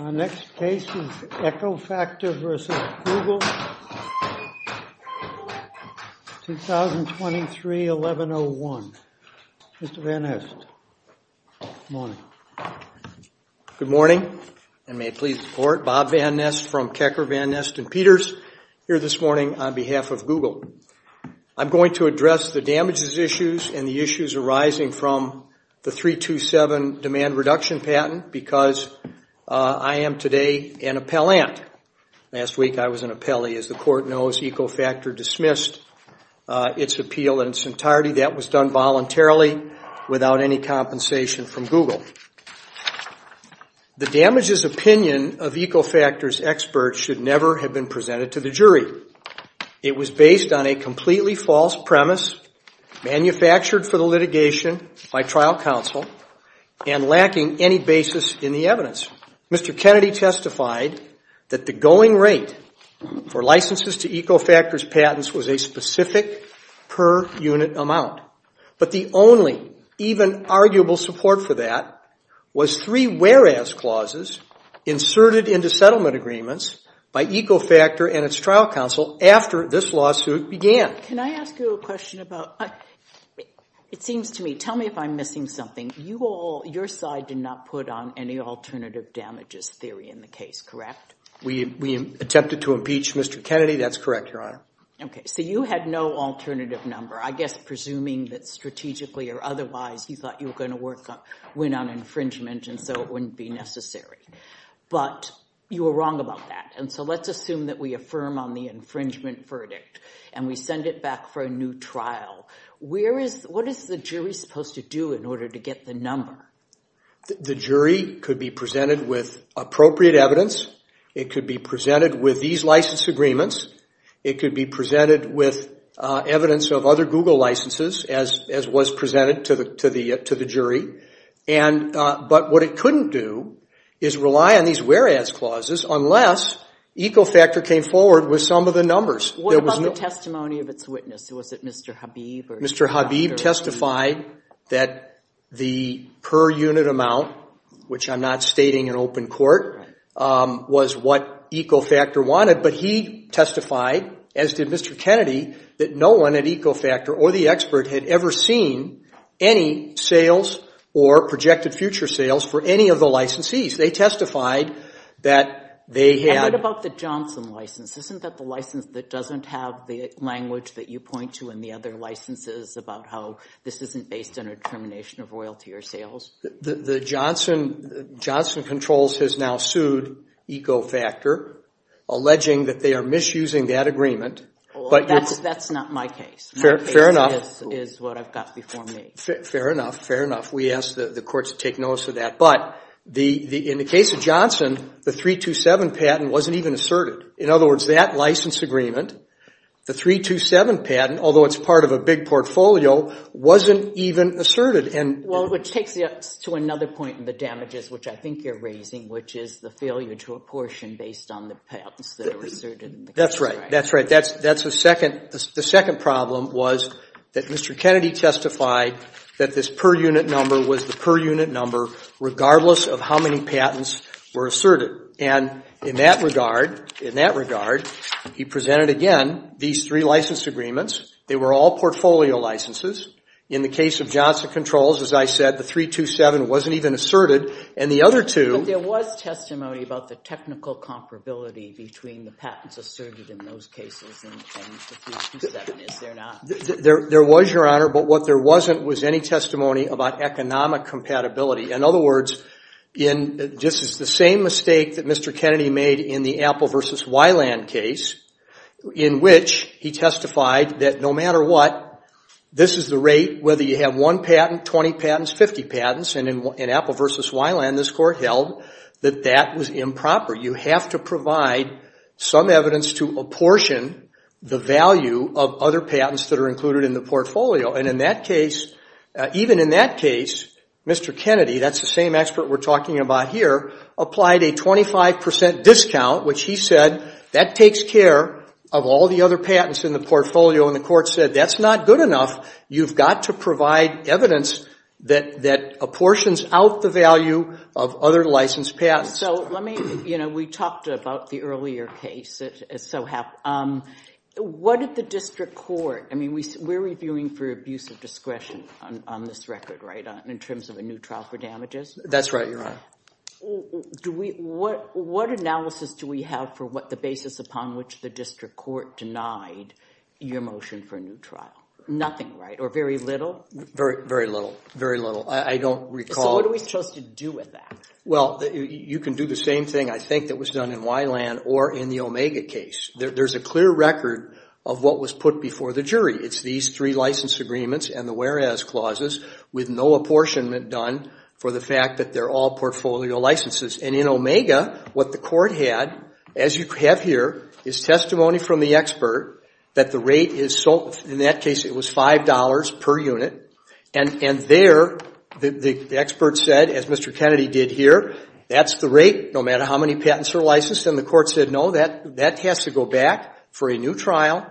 Our next case is EcoFactor v. Google, 2023-11-01. Mr. Van Nist, good morning. Good morning, and may it please the Court, Bob Van Nist from Kecker, Van Nist & Peters, here this morning on behalf of Google. I'm going to address the damages issues and the issues arising from the 327 demand reduction patent because I am today an appellant. Last week I was an appellee. As the Court knows, EcoFactor dismissed its appeal in its entirety. That was done voluntarily, without any compensation from Google. The damages opinion of EcoFactor's experts should never have been presented to the jury. It was based on a completely false premise, manufactured for the litigation by trial counsel, and lacking any basis in the evidence. Mr. Kennedy testified that the going rate for licenses to EcoFactor's patents was a specific per-unit amount. But the only even arguable support for that was three whereas clauses inserted into settlement agreements by EcoFactor and its trial counsel after this lawsuit began. Can I ask you a question about, it seems to me, tell me if I'm missing something. You all, your side did not put on any alternative damages theory in the case, correct? We attempted to impeach Mr. Kennedy, that's correct, Your Honor. Okay, so you had no alternative number, I guess presuming that strategically or otherwise you thought you were going to win on infringement and so it wouldn't be necessary. But you were wrong about that, and so let's assume that we affirm on the infringement verdict and we send it back for a new trial. What is the jury supposed to do in order to get the number? The jury could be presented with appropriate evidence. It could be presented with these license agreements. It could be presented with evidence of other Google licenses as was presented to the jury. But what it couldn't do is rely on these whereas clauses unless EcoFactor came forward with some of the numbers. What about the testimony of its witness? Was it Mr. Habib? Mr. Habib testified that the per unit amount, which I'm not stating in open court, was what EcoFactor wanted, but he testified, as did Mr. Kennedy, that no one at EcoFactor or the expert had ever seen any sales or projected future sales for any of the licensees. They testified that they had... Isn't that the license that doesn't have the language that you point to in the other licenses about how this isn't based on a determination of royalty or sales? The Johnson Controls has now sued EcoFactor, alleging that they are misusing that agreement. That's not my case. Fair enough. My case is what I've got before me. Fair enough. Fair enough. We ask the courts to take notice of that. But in the case of Johnson, the 327 patent wasn't even asserted. In other words, that license agreement, the 327 patent, although it's part of a big portfolio, wasn't even asserted. Well, which takes us to another point in the damages, which I think you're raising, which is the failure to apportion based on the patents that are asserted. That's right. That's right. The second problem was that Mr. Kennedy testified that this per unit number was the per unit number regardless of how many patents were asserted. And in that regard, in that regard, he presented again these three license agreements. They were all portfolio licenses. In the case of Johnson Controls, as I said, the 327 wasn't even asserted. And the other two... But there was testimony about the technical comparability between the patents asserted in those cases and the 327, is there not? There was, Your Honor. But what there wasn't was any testimony about economic compatibility. In other words, this is the same mistake that Mr. Kennedy made in the Apple v. Weiland case, in which he testified that no matter what, this is the rate whether you have one patent, 20 patents, 50 patents. And in Apple v. Weiland, this court held that that was improper. You have to provide some evidence to apportion the value of other patents that are included in the portfolio. And in that case, even in that case, Mr. Kennedy, that's the same expert we're talking about here, applied a 25% discount, which he said, that takes care of all the other patents in the portfolio. And the court said, that's not good enough. You've got to provide evidence that apportions out the value of other licensed patents. So let me... You know, we talked about the earlier case. What did the district court... I mean, we're reviewing for abuse of discretion on this record, right? In terms of a new trial for damages? That's right, Your Honor. What analysis do we have for what the basis upon which the district court denied your motion for a new trial? Nothing, right? Or very little? Very, very little. Very little. I don't recall... So what are we supposed to do with that? Well, you can do the same thing, I think, that was done in Weiland or in the Omega case. There's a clear record of what was put before the jury. It's these three license agreements and the whereas clauses with no apportionment done for the fact that they're all portfolio licenses. And in Omega, what the court had, as you have here, is testimony from the expert that the rate is... In that case, it was $5 per unit. And there, the expert said, as Mr. Kennedy did here, that's the rate, no matter how many patents are licensed. And the court said, no, that has to go back for a new trial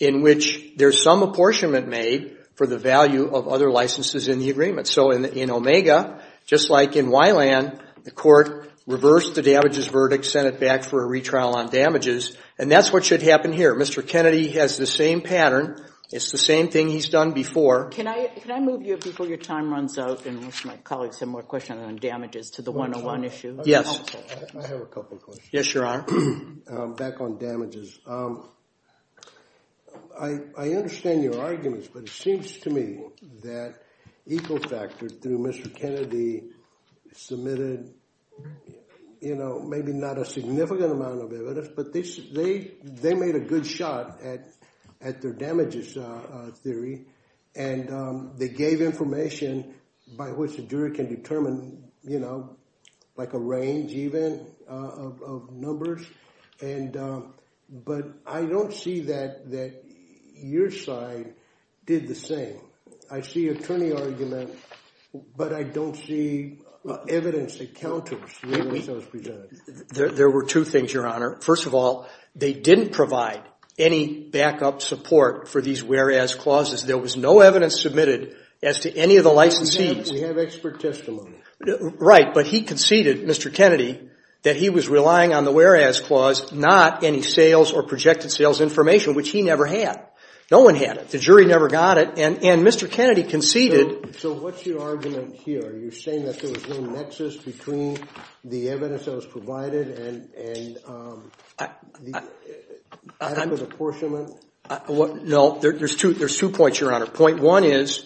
in which there's some apportionment made for the value of other licenses in the agreement. So in Omega, just like in Weiland, the court reversed the damages verdict, sent it back for a retrial on damages. And that's what should happen here. Mr. Kennedy has the same pattern. It's the same thing he's done before. Can I move you before your time runs out and my colleagues have more questions on damages to the 101 issue? Yes. Sure. Back on damages. I understand your arguments, but it seems to me that Ecofactor, through Mr. Kennedy, submitted, you know, maybe not a significant amount of evidence, but they made a good shot at their damages theory. And they gave information by which a juror can determine, you know, like a range even of numbers. But I don't see that your side did the same. I see attorney arguments, but I don't see evidence that counters the evidence that was presented. There were two things, Your Honor. First of all, they didn't provide any backup support for these whereas clauses. There was no evidence submitted as to any of the licensees. We have expert testimony. Right. But he conceded, Mr. Kennedy, that he was relying on the whereas clause, not any sales or projected sales information, which he never had. No one had it. The jury never got it. And Mr. Kennedy conceded. So what's your argument here? Are you saying that there was no nexus between the evidence that was provided and the backup apportionment? No. There's two points, Your Honor. Point one is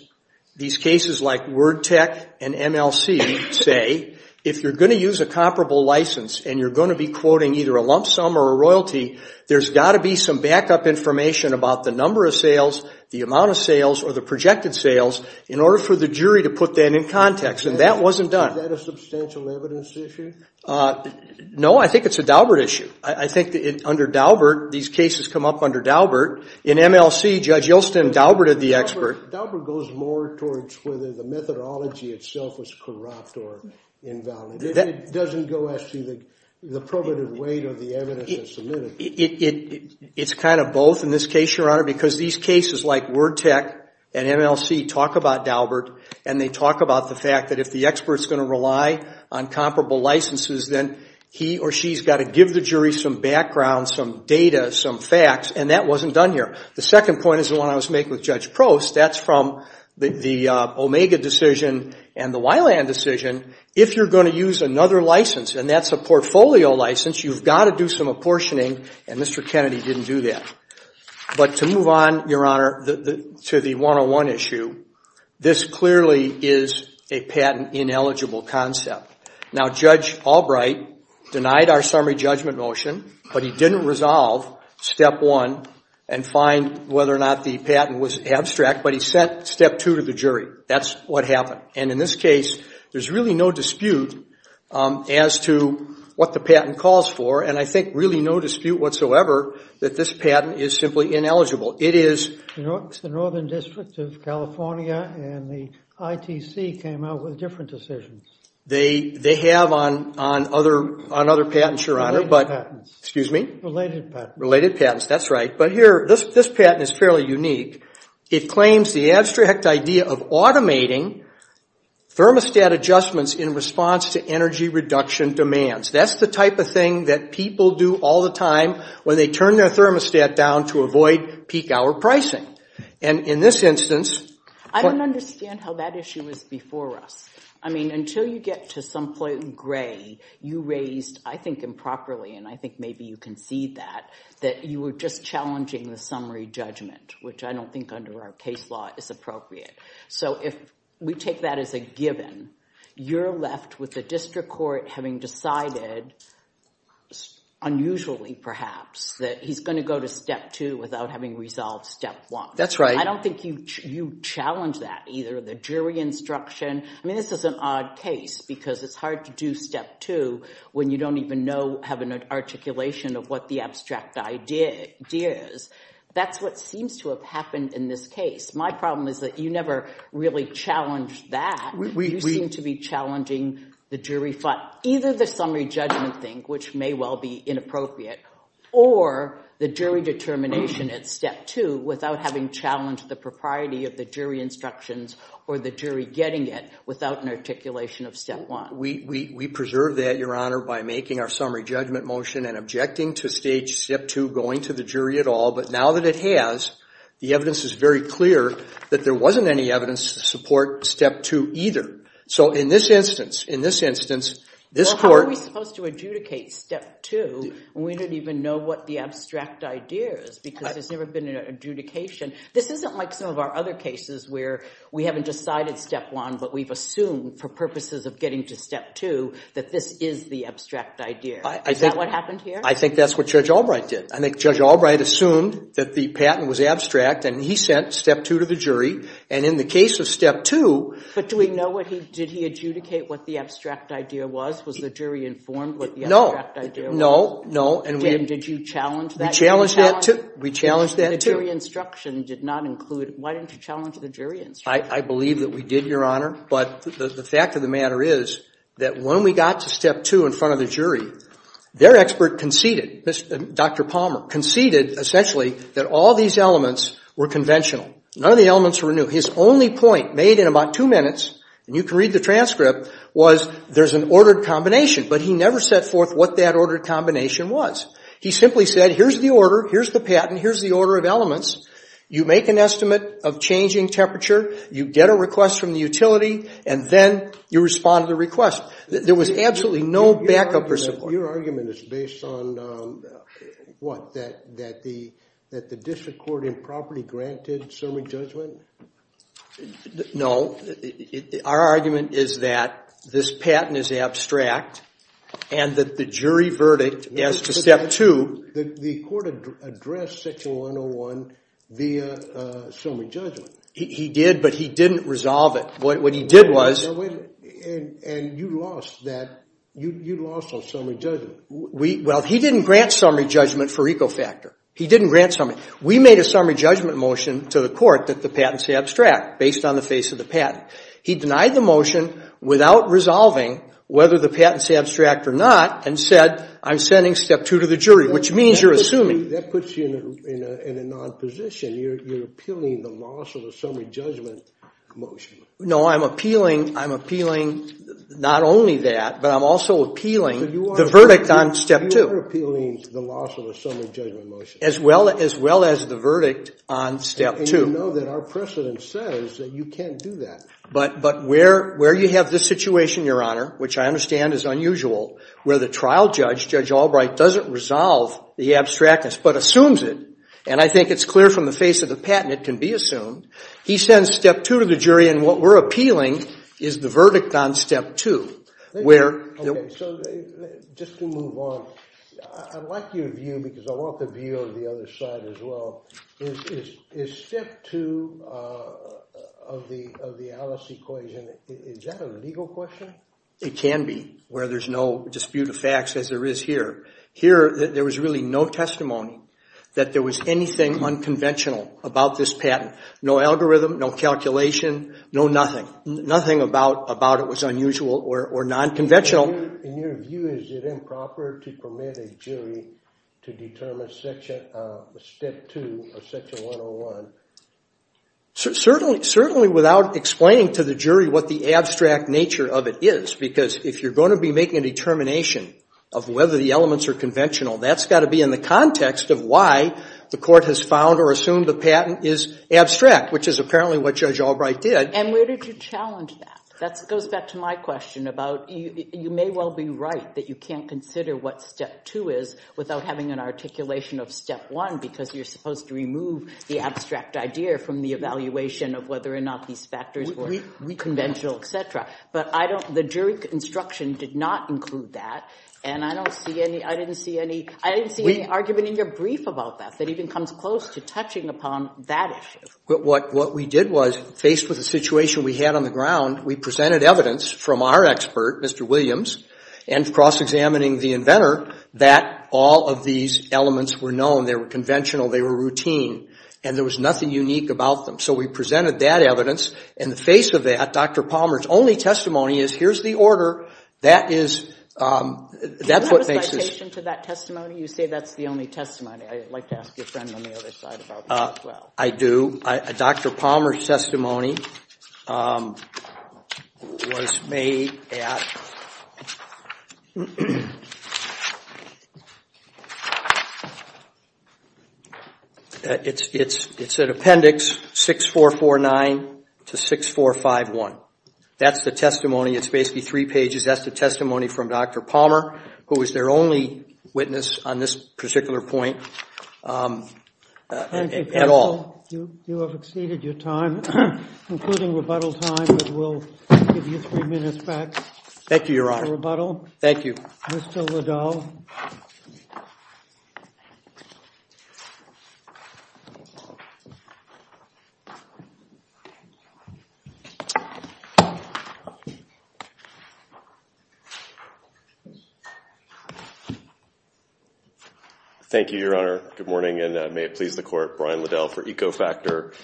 these cases like Word Tech and MLC say if you're going to use a comparable license and you're going to be quoting either a lump sum or a royalty, there's got to be some backup information about the number of sales, the amount of sales, or the projected sales in order for the jury to put that in context. And that wasn't done. Is that a substantial evidence issue? No, I think it's a Daubert issue. I think under Daubert, these cases come up under Daubert. In MLC, Judge Yelston and Daubert are the experts. Daubert goes more towards whether the methodology itself was corrupt or invalid. It doesn't go as to the probative weight of the evidence that's submitted. It's kind of both in this case, Your Honor, because these cases like Word Tech and MLC talk about Daubert, and they talk about the fact that if the expert's going to rely on comparable licenses, then he or she's got to give the jury some background, some data, some facts, and that wasn't done here. The second point is the one I was making with Judge Prost. That's from the Omega decision and the Weiland decision. If you're going to use another license, and that's a portfolio license, you've got to do some apportioning, and Mr. Kennedy didn't do that. But to move on, Your Honor, to the 101 issue, this clearly is a patent-ineligible concept. Now, Judge Albright denied our summary judgment motion, but he didn't resolve step one and find whether or not the patent was abstract, but he sent step two to the jury. That's what happened. And in this case, there's really no dispute as to what the patent calls for, and I think really no dispute whatsoever that this patent is simply ineligible. It is... The Northern District of California and the ITC came out with different decisions. They have on other patents, Your Honor, but... Related patents. Excuse me? Related patents. Related patents, that's right. But here, this patent is fairly unique. It claims the abstract idea of automating thermostat adjustments in response to energy reduction demands. That's the type of thing that people do all the time when they turn their thermostat down to avoid peak hour pricing. And in this instance... I don't understand how that issue was before us. I mean, until you get to some point in gray, you raised, I think, improperly, and I think maybe you can see that, that you were just challenging the summary judgment, which I don't think under our case law is appropriate. So if we take that as a given, you're left with the district court having decided, unusually perhaps, that he's going to go to step two without having resolved step one. That's right. I don't think you challenge that either. The jury instruction... I mean, this is an odd case because it's hard to do step two when you don't even know, have an articulation of what the abstract idea is. That's what seems to have happened in this case. My problem is that you never really challenged that. You seem to be challenging the jury... Either the summary judgment thing, which may well be inappropriate, or the jury determination at step two without having challenged the propriety of the jury instructions or the jury getting it without an articulation of step one. We preserve that, Your Honor, by making our summary judgment motion and objecting to stage step two going to the jury at all. But now that it has, the evidence is very clear that there wasn't any evidence to support step two either. So in this instance, in this instance, this court... Well, how are we supposed to adjudicate step two when we don't even know what the abstract idea is? Because there's never been an adjudication. This isn't like some of our other cases where we haven't decided step one, but we've assumed for purposes of getting to step two that this is the abstract idea. Is that what happened here? I think that's what Judge Albright did. I think Judge Albright assumed that the patent was abstract and he sent step two to the jury. And in the case of step two... But do we know what he... Did he adjudicate what the abstract idea was? Was the jury informed what the abstract idea was? No, no, no. And did you challenge that? We challenged that too. The jury instruction did not include... Why didn't you challenge the jury instruction? I believe that we did, Your Honor. But the fact of the matter is that when we got to step two in front of the jury, their expert conceded, Dr. Palmer, conceded essentially that all these elements were conventional. None of the elements were new. His only point made in about two minutes, and you can read the transcript, was there's an ordered combination. But he never set forth what that ordered combination was. He simply said, here's the order, here's the patent, here's the order of elements. You make an estimate of changing temperature. You get a request from the utility. And then you respond to the request. There was absolutely no backup or support. Your argument is based on what? That the district court improperly granted summary judgment? No. Our argument is that this patent is abstract and that the jury verdict as to step two... The court addressed section 101 via summary judgment. He did, but he didn't resolve it. What he did was... And you lost that. You lost on summary judgment. Well, he didn't grant summary judgment for Ecofactor. He didn't grant summary. We made a summary judgment motion to the court that the patents be abstract based on the face of the patent. He denied the motion without resolving whether the patents be abstract or not and said, I'm sending step two to the jury, which means you're assuming... That puts you in an odd position. You're appealing the loss of a summary judgment motion. No, I'm appealing not only that, but I'm also appealing the verdict on step two. You are appealing the loss of a summary judgment motion. As well as the verdict on step two. And you know that our precedent says that you can't do that. But where you have this situation, Your Honor, which I understand is unusual, where the trial judge, Judge Albright, doesn't resolve the abstractness but assumes it, and I think it's clear from the face of the patent it can be assumed, he sends step two to the jury and what we're appealing is the verdict on step two. Where... Just to move on, I'd like your view because I want the view of the other side as well. Is step two of the Alice equation, is that a legal question? It can be, where there's no dispute of facts as there is here. Here, there was really no testimony that there was anything unconventional about this patent. No algorithm, no calculation, no nothing. Nothing about it was unusual or non-conventional. In your view, is it improper to permit a jury to determine step two of section 101? Certainly without explaining to the jury what the abstract nature of it is. Because if you're going to be making a determination of whether the elements are conventional, that's got to be in the context of why the court has found or assumed the patent is abstract, which is apparently what Judge Albright did. And where did you challenge that? That goes back to my question about you may well be right that you can't consider what step two is without having an articulation of step one because you're supposed to remove the abstract idea from the evaluation of whether or not these factors were conventional, etc. But the jury instruction did not include that and I didn't see any argument in your brief about that that even comes close to touching upon that issue. But what we did was, faced with the situation we had on the ground, we presented evidence from our expert, Mr. Williams, and cross-examining the inventor, that all of these elements were known. They were conventional. They were routine. And there was nothing unique about them. So we presented that evidence. In the face of that, Dr. Palmer's only testimony is, well, here's the order. That's what makes this... Do you have a citation to that testimony? You say that's the only testimony. I'd like to ask your friend on the other side about that as well. I do. Dr. Palmer's testimony was made at... It's at Appendix 6449 to 6451. That's the testimony. It's basically three pages. That's the testimony from Dr. Palmer, who was their only witness on this particular point at all. Thank you, counsel. You have exceeded your time, including rebuttal time, but we'll give you three minutes back for rebuttal. Thank you, Your Honor. Thank you. Mr. Liddell. Thank you, Your Honor. Good morning, and may it please the Court. Brian Liddell for Ecofactor.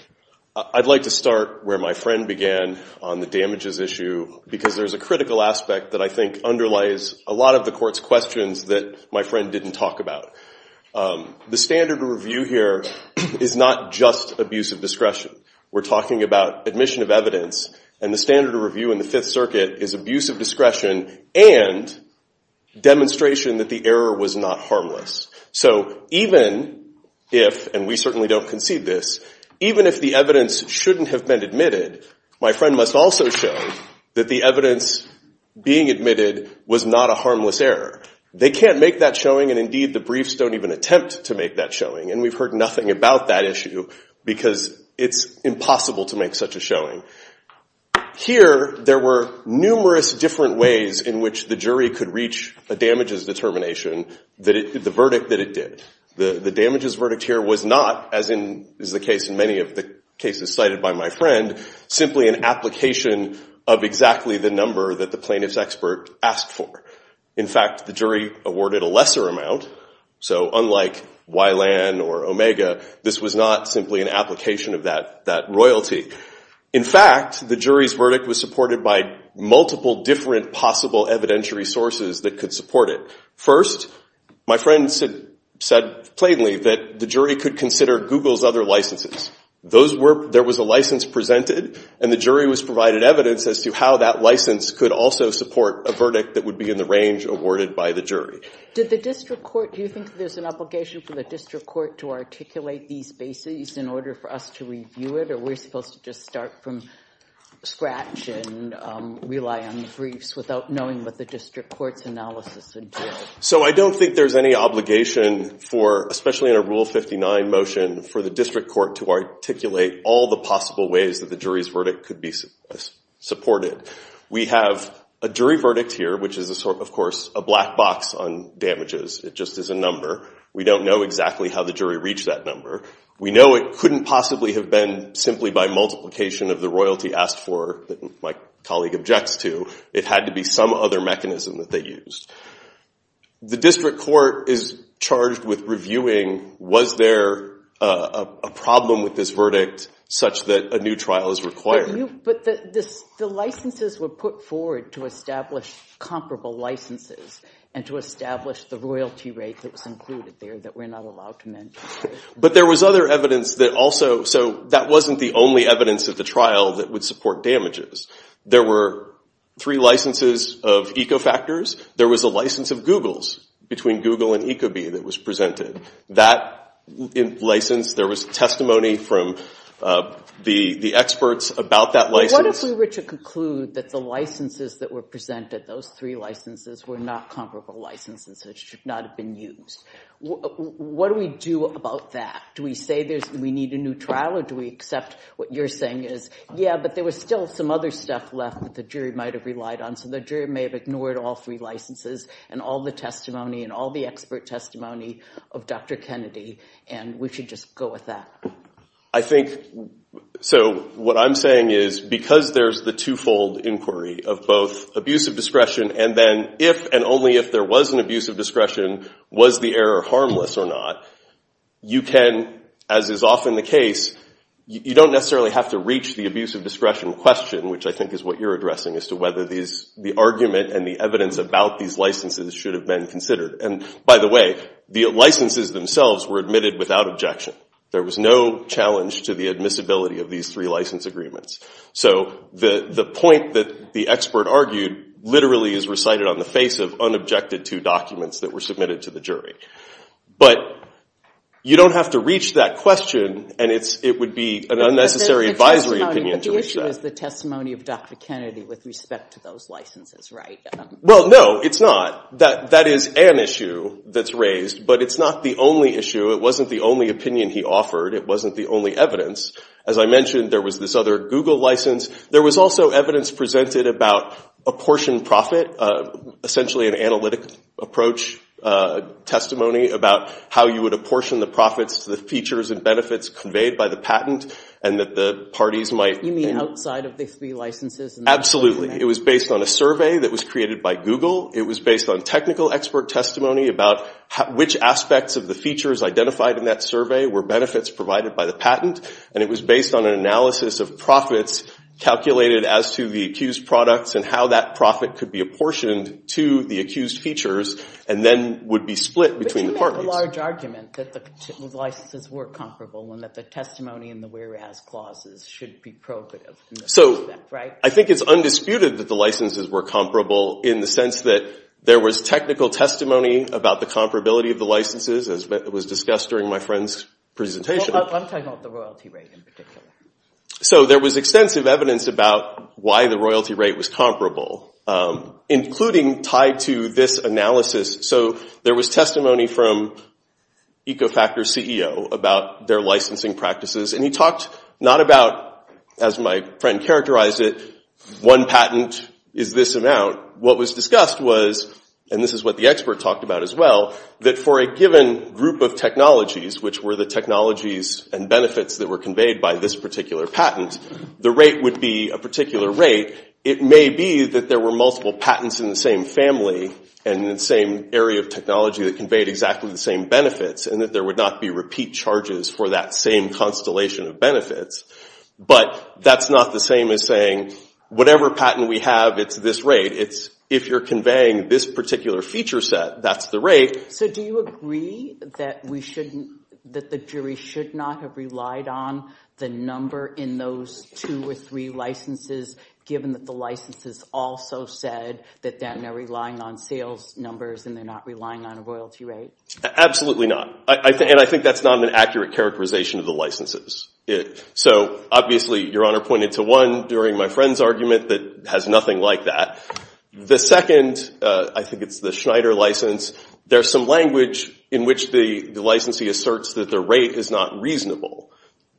I'd like to start where my friend began on the damages issue because there's a critical aspect that I think underlies a lot of the Court's questions that my friend didn't talk about. The standard review here is not just abuse of discretion. We're talking about admission of evidence and the standard review of evidence. The standard review in the Fifth Circuit is abuse of discretion and demonstration that the error was not harmless. So even if, and we certainly don't concede this, even if the evidence shouldn't have been admitted, my friend must also show that the evidence being admitted was not a harmless error. They can't make that showing, and indeed, the briefs don't even attempt to make that showing, because it's impossible to make such a showing. Here, there were numerous different ways in which the jury could reach a damages determination, the verdict that it did. The damages verdict here was not, as is the case in many of the cases cited by my friend, simply an application of exactly the number that the plaintiff's expert asked for. In fact, the jury awarded a lesser amount, so unlike Wylan or Omega, this was not simply an application of that royalty. In fact, the jury's verdict was supported by multiple different possible evidentiary sources that could support it. First, my friend said plainly that the jury could consider Google's other licenses. There was a license presented, and the jury was provided evidence as to how that license could also support a verdict that would be in the range awarded by the jury. Do you think there's an obligation for the district court to articulate these bases in order for us to review it, or are we supposed to just start from scratch and rely on briefs without knowing what the district court's analysis would do? So I don't think there's any obligation for, especially in a Rule 59 motion, for the district court to articulate all the possible ways that the jury's verdict could be supported. We have a jury verdict here, which is, of course, a black box on damages. It just is a number. We don't know exactly how the jury reached that number. We know it couldn't possibly have been simply by multiplication of the royalty asked for that my colleague objects to. It had to be some other mechanism that they used. The district court is charged with reviewing, was there a problem with this verdict such that a new trial is required? But the licenses were put forward to establish comparable licenses and to establish the royalty rate that was included there that we're not allowed to mention. There was other evidence that also, so that wasn't the only evidence of the trial that would support damages. There were three licenses of Ecofactors. There was a license of Google's between Google and Ecobee that was presented. That license, there was testimony from the experts about that license. What if we were to conclude that the licenses that were presented, those three licenses, were not comparable licenses that should not have been used? What do we do about that? Do we say we need a new trial or do we accept what you're saying is, yeah, but there was still some other stuff left that the jury might have relied on. So the jury may have ignored all three licenses and all the testimony and all the expert testimony of Dr. Kennedy and we should just go with that. I think, so what I'm saying is because there's the two-fold inquiry of both abuse of discretion and then if and only if there was an abuse of discretion, whether it was fair or harmless or not, you can, as is often the case, you don't necessarily have to reach the abuse of discretion question, which I think is what you're addressing, as to whether the argument and the evidence about these licenses should have been considered. And by the way, the licenses themselves were admitted without objection. There was no challenge to the admissibility of these three license agreements. So the point that the expert argued literally is recited on the face of unobjected two documents that were submitted to the jury. But you don't have to reach that question and it would be an unnecessary advisory opinion to reach that. But the issue is the testimony of Dr. Kennedy with respect to those licenses, right? Well, no, it's not. That is an issue that's raised, but it's not the only issue. It wasn't the only opinion he offered. It wasn't the only evidence. As I mentioned, there was this other Google license. There was also evidence presented about apportioned profit, essentially an analytic approach testimony about how you would apportion the profits to the features and benefits conveyed by the patent and that the parties might... You mean outside of the three licenses? Absolutely. It was based on a survey that was created by Google. It was based on technical expert testimony about which aspects of the features identified in that survey were benefits provided by the patent. And it was based on an analysis of profits calculated as to the accused products and how that profit could be apportioned to the accused features and then would be split between the parties. But you make a large argument that the licenses were comparable and that the testimony in the whereas clauses should be prohibitive in this respect, right? So I think it's undisputed that the licenses were comparable in the sense that there was technical testimony about the comparability of the licenses as was discussed during my friend's presentation. Well, I'm talking about the royalty rate in particular. So there was extensive evidence about why the royalty rate was comparable, including tied to this analysis. So there was testimony from Ecofactor's CEO about their licensing practices and he talked not about, as my friend characterized it, one patent is this amount. What was discussed was, and this is what the expert talked about as well, that for a given group of technologies, which were the technologies and benefits that were conveyed by this particular patent, the rate would be a particular rate. It may be that there were multiple patents in the same family and in the same area of technology that conveyed exactly the same benefits and that there would not be repeat charges for that same constellation of benefits. But that's not the same as saying whatever patent we have, it's this rate. It's if you're conveying this particular feature set, that's the rate. So do you agree that the jury should not have relied on the number in those two or three licenses, given that the licenses also said that they're relying on sales numbers and they're not relying on a royalty rate? Absolutely not. And I think that's not an accurate characterization of the licenses. So obviously, Your Honor pointed to one during my friend's argument that has nothing like that. The second, I think it's the Schneider license, there's some language in which the licensee asserts that the rate is not reasonable.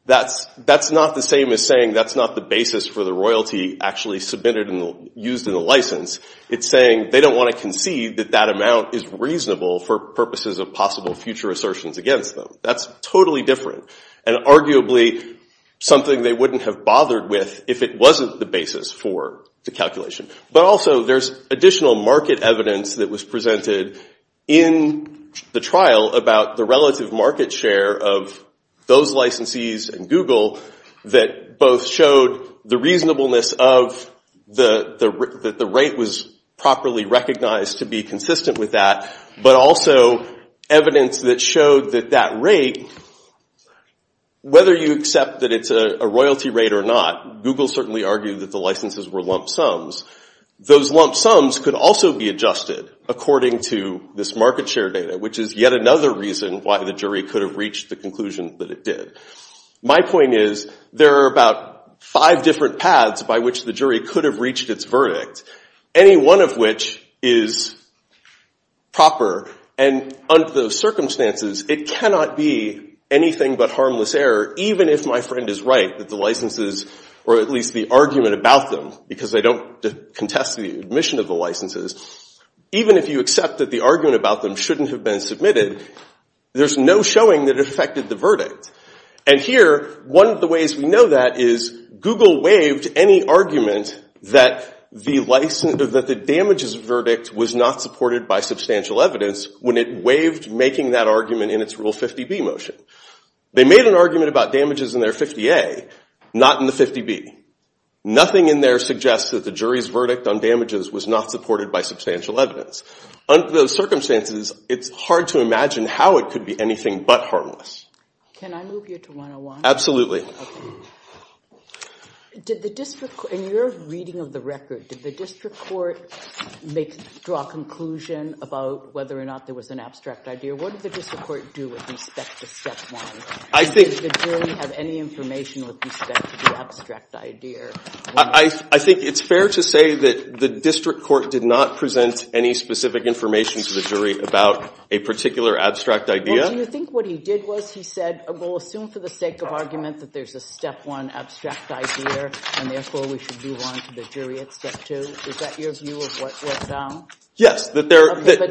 That's not the same as saying that's not the basis for the royalty actually submitted and used in the license. It's saying they don't want to concede that that amount is reasonable for purposes of possible future assertions against them. That's totally different and arguably something they wouldn't have bothered with if it wasn't the basis for the calculation. But also, there's additional market evidence that was presented in the trial about the relative market share of those licensees and Google that both showed the reasonableness of that the rate was properly recognized to be consistent with that, but also evidence that showed that that rate, whether you accept that it's a royalty rate or not, Google certainly argued that the licenses were lump sums. Those lump sums could also be adjusted according to this market share data, which is yet another reason why the jury could have reached the conclusion that it did. My point is there are about five different paths by which the jury could have reached its verdict, any one of which is proper. And under those circumstances, it cannot be anything but harmless error even if my friend is right that the licenses, or at least the argument about them, because they don't contest the admission of the licenses, even if you accept that the argument about them has been submitted, there's no showing that it affected the verdict. And here, one of the ways we know that is Google waived any argument that the damages verdict was not supported by substantial evidence when it waived making that argument in its Rule 50B motion. They made an argument about damages in their 50A, not in the 50B. Nothing in there suggests that the jury's verdict on damages was not supported by substantial evidence. Under those circumstances, it's hard to imagine how it could be anything but harmless. Can I move you to 101? Absolutely. Did the district court, in your reading of the record, did the district court draw a conclusion about whether or not there was an abstract idea? What did the district court do with respect to step one? Did the jury have any information with respect to the abstract idea? I think it's fair to say that the district court did not present any specific information to the jury about a particular abstract idea. Do you think what he did was he said, we'll assume for the sake of argument that there's a step one abstract idea and therefore we should move on to the jury at step two? Is that your view of what's found? Yes. But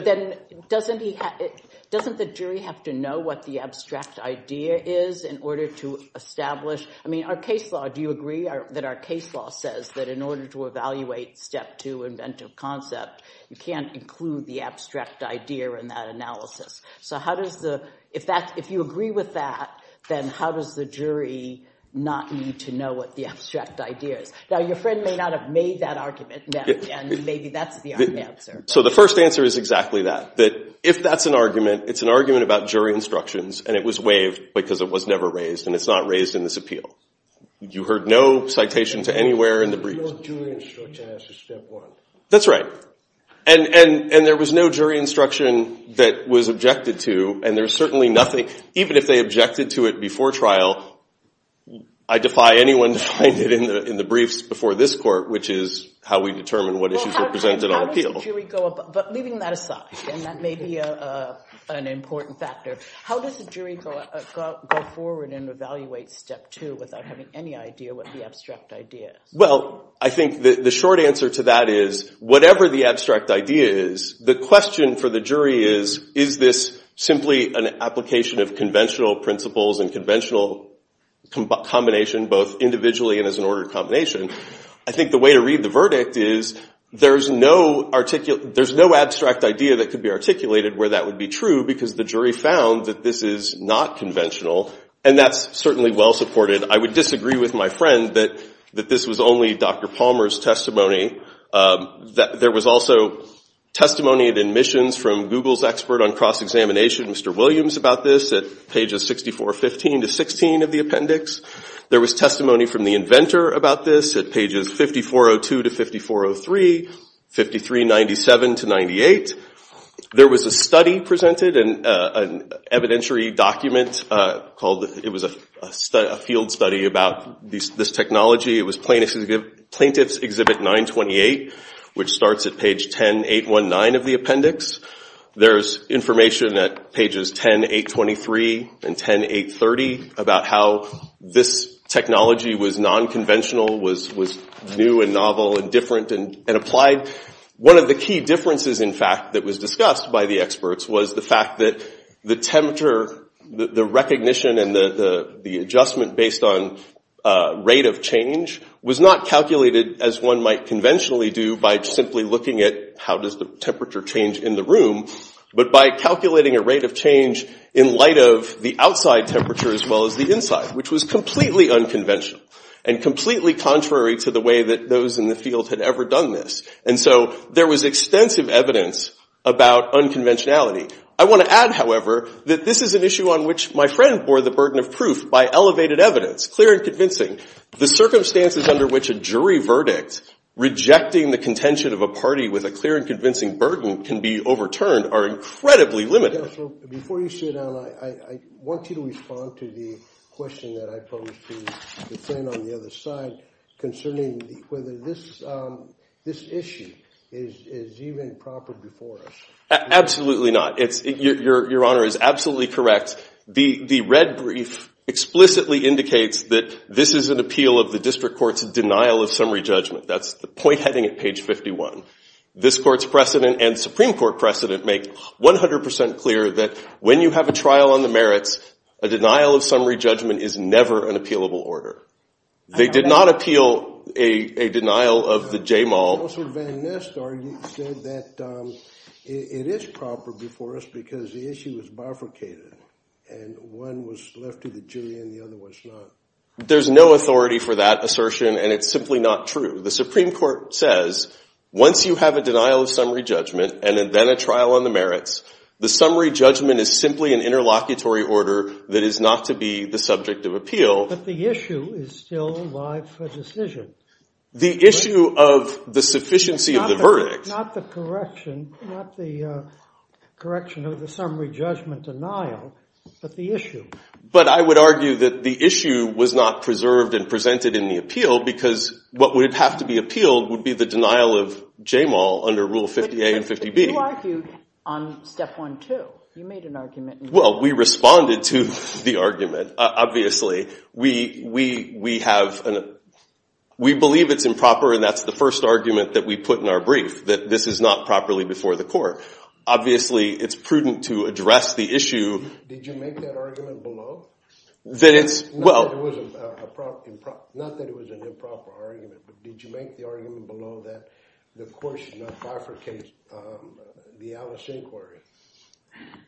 then doesn't the jury have to know what the abstract idea is in order to establish... I mean, our case law, do you agree that our case law says that in order to evaluate step two inventive concept, you can't include the abstract idea in that analysis? So if you agree with that, then how does the jury not need to know what the abstract idea is? Now, your friend may not have made that argument, and maybe that's the right answer. So the first answer is exactly that, that if that's an argument, it's an argument about jury instructions and it was waived because it was never raised and it's not raised in this appeal. You heard no citation to anywhere in the brief. No jury instruction as to step one. That's right. And there was no jury instruction that was objected to, and there's certainly nothing, even if they objected to it before trial, I defy anyone to find it in the briefs before this court, which is how we determine what issues are presented on appeal. But leaving that aside, and that may be an important factor, how does the jury go forward and evaluate step two? Without having any idea what the abstract idea is. Well, I think the short answer to that is whatever the abstract idea is, the question for the jury is, is this simply an application of conventional principles and conventional combination, both individually and as an ordered combination? I think the way to read the verdict is there's no abstract idea that could be articulated where that would be true because the jury found that this is not conventional, and that's certainly well supported. I would disagree with my friend that this was only Dr. Palmer's testimony. There was also testimony at admissions from Google's expert on cross-examination, Mr. Williams, about this at pages 6415 to 16 of the appendix. There was testimony from the inventor about this at pages 5402 to 5403, 5397 to 98. There was a study presented, an evidentiary document called, it was a field study about this technology. It was Plaintiff's Exhibit 928, which starts at page 10819 of the appendix. There's information at pages 10823 and 10830 about how this technology was nonconventional, was new and novel and different and applied. One of the key differences, in fact, that was discussed by the experts was the fact that the temperature, the recognition and the adjustment based on rate of change was not calculated as one might conventionally do by simply looking at how does the temperature change in the room, but by calculating a rate of change in light of the outside temperature as well as the inside, which was completely unconventional and completely contrary to the way that those in the field had ever done this. There was extensive evidence about unconventionality. I want to add, however, that this is an issue on which my friend bore the burden of proof by elevated evidence, clear and convincing. The circumstances under which a jury verdict rejecting the contention of a party with a clear and convincing burden can be overturned are incredibly limited. Before you sit down, I want you to respond to the question that I posed to the friend on the other side concerning whether this issue is even proper before us. Absolutely not. Your Honor is absolutely correct. The red brief explicitly indicates that this is an appeal of the District Court's denial of summary judgment. That's the point heading at page 51. This Court's precedent and Supreme Court precedent make 100 percent clear that when you have a trial on the merits, a denial of summary judgment is never an appealable order. They did not appeal a denial of the JMOL. Mr. Van Nistar, you said that it is proper before us because the issue is bifurcated and one was left to the jury and the other was not. There's no authority for that assertion and it's simply not true. The Supreme Court says once you have a denial of summary judgment and then a trial on the merits, the summary judgment is simply an interlocutory order that is not to be the subject of appeal. But the issue is still a life decision. The issue of the sufficiency of the verdict. Not the correction, not the correction of the summary judgment denial, but the issue. But I would argue that the issue was not preserved and presented in the appeal because what would have to be appealed would be the denial of JMOL under Rule 50A and 50B. But you argued on Step 1.2. You made an argument. Well, we responded to the argument, obviously. We believe it's improper and that's the first argument that we put in our brief, that this is not properly before the court. Obviously, it's prudent to address the issue. Did you make that argument below? That it's, well. Not that it was an improper argument, but did you make the argument below that the court should not bifurcate the Alice inquiry?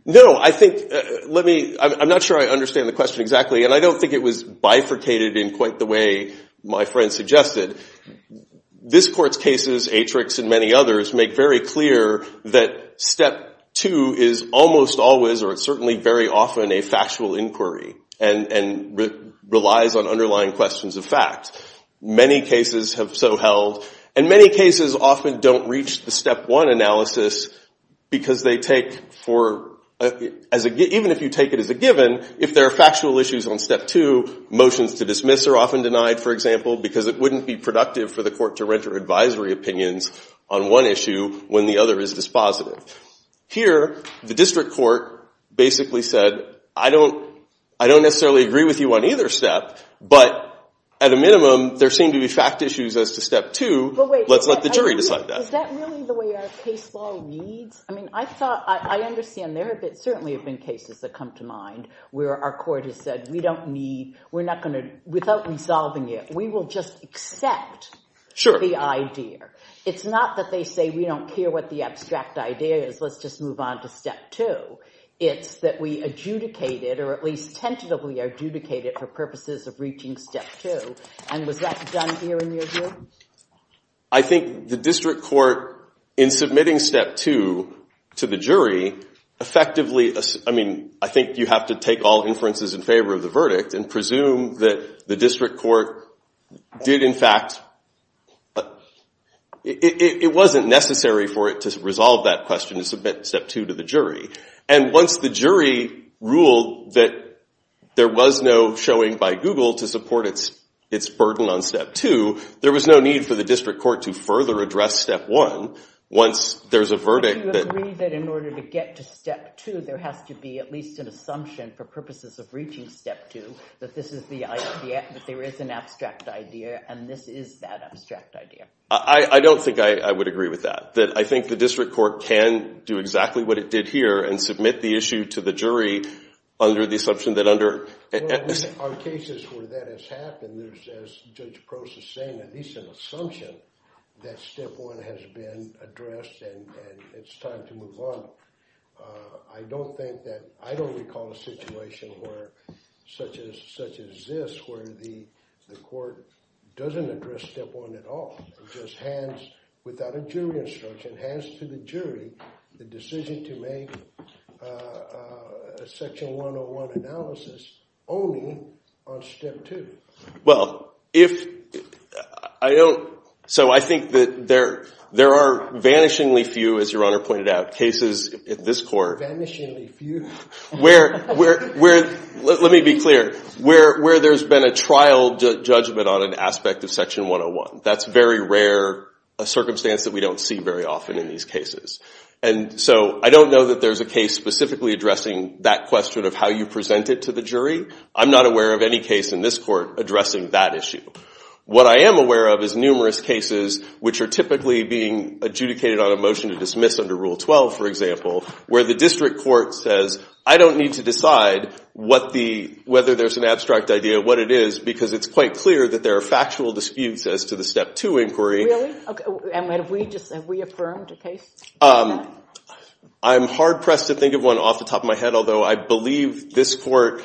No, I think, let me, I'm not sure I understand the question exactly and I don't think it was bifurcated in quite the way my friend suggested. This court's cases, Atrix and many others, make very clear that Step 2 is almost always or certainly very often a factual inquiry and relies on underlying questions of fact. Many cases have so held and many cases often don't reach the Step 1 analysis because they take for, even if you take it as a given, if there are factual issues on Step 2, motions to dismiss are often denied, for example, because it wouldn't be productive for the court to render advisory opinions on one issue when the other is dispositive. Here, the district court basically said, I don't necessarily agree with you on either step, but at a minimum, there seem to be fact issues as to Step 2. Let's let the jury decide that. Is that really the way our case law needs? I mean, I thought, I understand there certainly have been cases that come to mind where our court has said we don't need, we're not going to, without resolving it, we will just accept the idea. It's not that they say we don't care what the abstract idea is, let's just move on to Step 2. It's that we adjudicate it or at least tentatively adjudicate it for purposes of reaching Step 2. And was that done here in your view? I think the district court, in submitting Step 2 to the jury, effectively, I mean, I think you have to take all inferences in favor of the verdict and presume that the district court did in fact, it wasn't necessary for it to resolve that question to submit Step 2 to the jury. And once the jury ruled that there was no showing by Google to support its burden on Step 2, there was no need for the district court to further address Step 1 once there's a verdict. Do you agree that in order to get to Step 2, there has to be at least an assumption for purposes of reaching Step 2 that this is the idea, that there is an abstract idea and this is that abstract idea? I don't think I would agree with that. I think the district court can do exactly what it did here and submit the issue to the jury under the assumption that under... Well, in our cases where that has happened, there's, as Judge Gross is saying, at least an assumption that Step 1 has been addressed and it's time to move on. I don't think that... I don't recall a situation such as this where the court doesn't address Step 1 at all, just hands without a jury instruction, hands to the jury, the decision to make a Section 101 analysis only on Step 2. Well, if... I don't... So I think that there are vanishingly few, as you pointed out, cases in this court... Vanishingly few. Where... Let me be clear. Where there's been a trial judgment on an aspect of Section 101. That's very rare, a circumstance that we don't see very often in these cases. And so I don't know that there's a case specifically addressing that question of how you present it to the jury. I'm not aware of any case in this court addressing that issue. What I am aware of is numerous cases which are typically being adjudicated on a motion to dismiss under Rule 12, for example, where the district court says, I don't need to decide whether there's an abstract idea of what it is because it's quite clear that there are factual disputes as to the Step 2 inquiry. Really? And have we just... Have we affirmed a case? I'm hard-pressed to think of one off the top of my head, although I believe this court...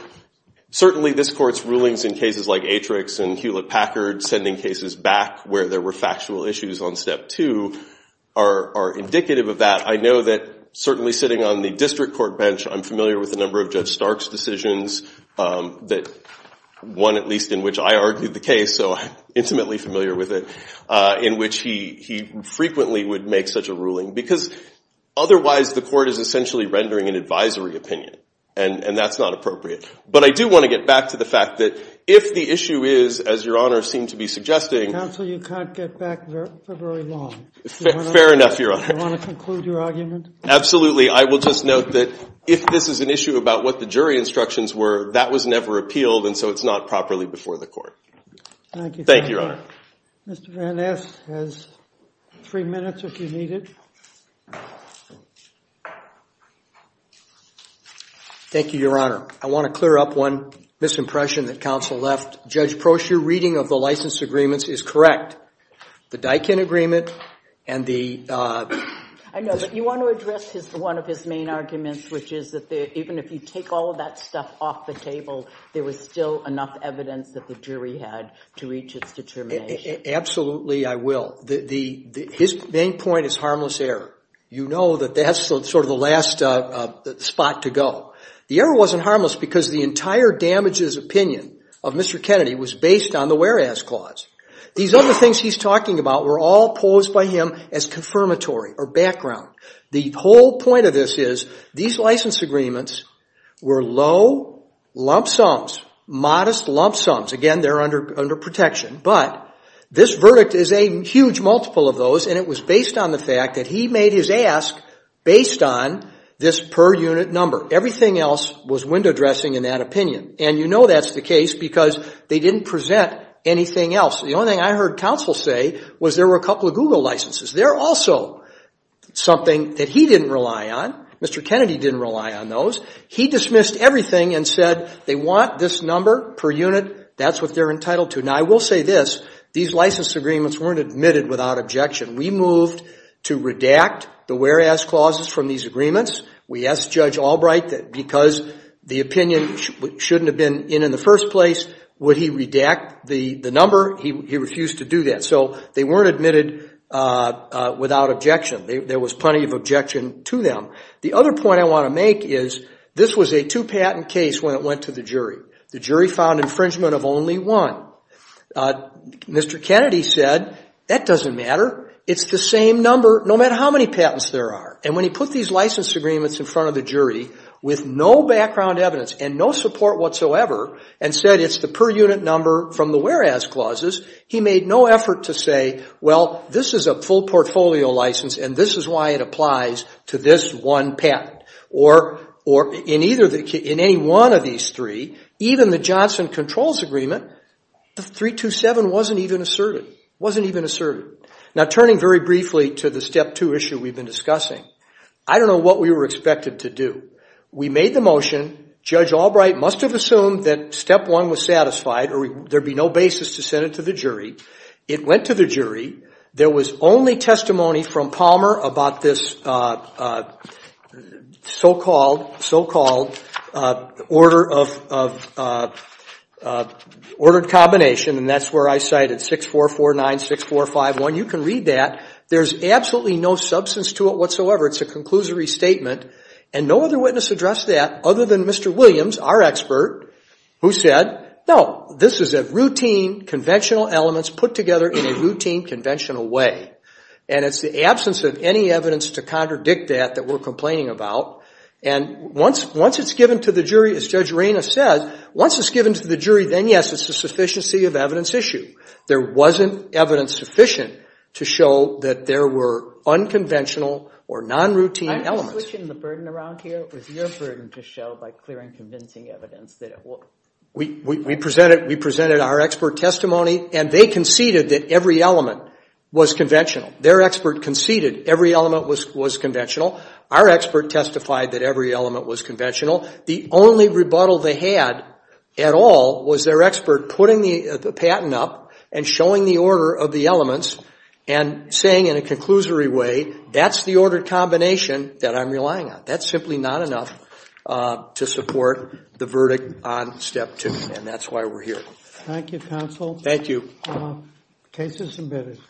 Certainly this court's rulings in cases like Atrix and Hewlett-Packard sending cases back where there were factual issues on Step 2 are indicative of that. I know that, certainly sitting on the district court bench, I'm familiar with a number of Judge Stark's decisions, one at least in which I argued the case, so I'm intimately familiar with it, in which he frequently would make such a ruling because otherwise the court is essentially rendering an advisory opinion, and that's not appropriate. But I do want to get back to the fact that if the issue is, as Your Honor seemed to be suggesting... Counsel, you can't get back for very long. Do you want to conclude your argument? Absolutely. I will just note that if this is an issue about what the jury instructions were, that was never appealed, and so it's not properly before the court. Thank you. Thank you, Your Honor. Mr. Van Ness has three minutes, if you need it. Thank you, Your Honor. I want to clear up one misimpression that counsel left. Judge Prosher, reading of the license agreements is correct. The Daikin agreement and the... I know, but you want to address one of his main arguments, which is that even if you take all of that stuff off the table, there was still enough evidence that the jury had to reach its determination. Absolutely, I will. His main point is harmless error. You know that that's sort of the last spot to go. The error wasn't harmless because the entire damages opinion of Mr. Kennedy was based on the whereas clause. These other things he's talking about were all posed by him as confirmatory or background. The whole point of this is these license agreements were low lump sums, modest lump sums. Again, they're under protection, but this verdict is a huge multiple of those and it was based on the fact that he made his ask based on this per unit number. Everything else was window dressing in that opinion and you know that's the case because they didn't present anything else. The only thing I heard counsel say was there were a couple of Google licenses. They're also something that he didn't rely on. Mr. Kennedy didn't rely on those. He dismissed everything and said they want this number per unit. That's what they're entitled to. Now, I will say this. These license agreements weren't admitted without objection. We moved to redact the whereas clauses from these agreements. We asked Judge Albright that because the opinion shouldn't have been in in the first place, would he redact the number? He refused to do that. So they weren't admitted without objection. There was plenty of objection to them. The other point I want to make is this was a two patent case when it went to the jury. The jury found infringement of only one. Mr. Kennedy said that doesn't matter. It's the same number no matter how many patents there are and when he put these license agreements in front of the jury with no background evidence and no support whatsoever and said it's the per unit number from the whereas clauses, he made no effort to say well, this is a full portfolio license and this is why it applies to this one patent or in any one of these three, even the Johnson Controls Agreement, 327 wasn't even asserted. Now, turning very briefly to the Step 2 issue we've been discussing, I don't know what we were expected to do. We made the motion. Judge Albright must have assumed that Step 1 was satisfied and there'd be no basis to send it to the jury. It went to the jury. There was only testimony from Palmer about this so-called order of combination and that's where I cited 64496451. You can read that. There's absolutely no substance to it whatsoever. It's a conclusory statement and no other witness addressed that other than Mr. Williams, our expert, who said, no, this is a routine, conventional elements put together in a routine, conventional way and it's the absence of any evidence to contradict that that we're complaining about and once it's given to the jury, as Judge Reyna said, once it's given to the jury, then yes, it's a sufficiency of evidence issue. There wasn't evidence sufficient to show that there were unconventional or non-routine elements. I'm just switching the burden around here with your burden to show by clear and convincing evidence that it was. We presented our expert testimony and they conceded that every element was conventional. Their expert conceded every element was conventional. Our expert testified that every element was conventional. The only rebuttal they had at all was their expert putting the patent up and showing the order of the elements and saying in a conclusory way, that's the order combination that I'm relying on. That's simply not enough to support the verdict on step two and that's why we're here. Thank you, counsel. Thank you. Case is submitted.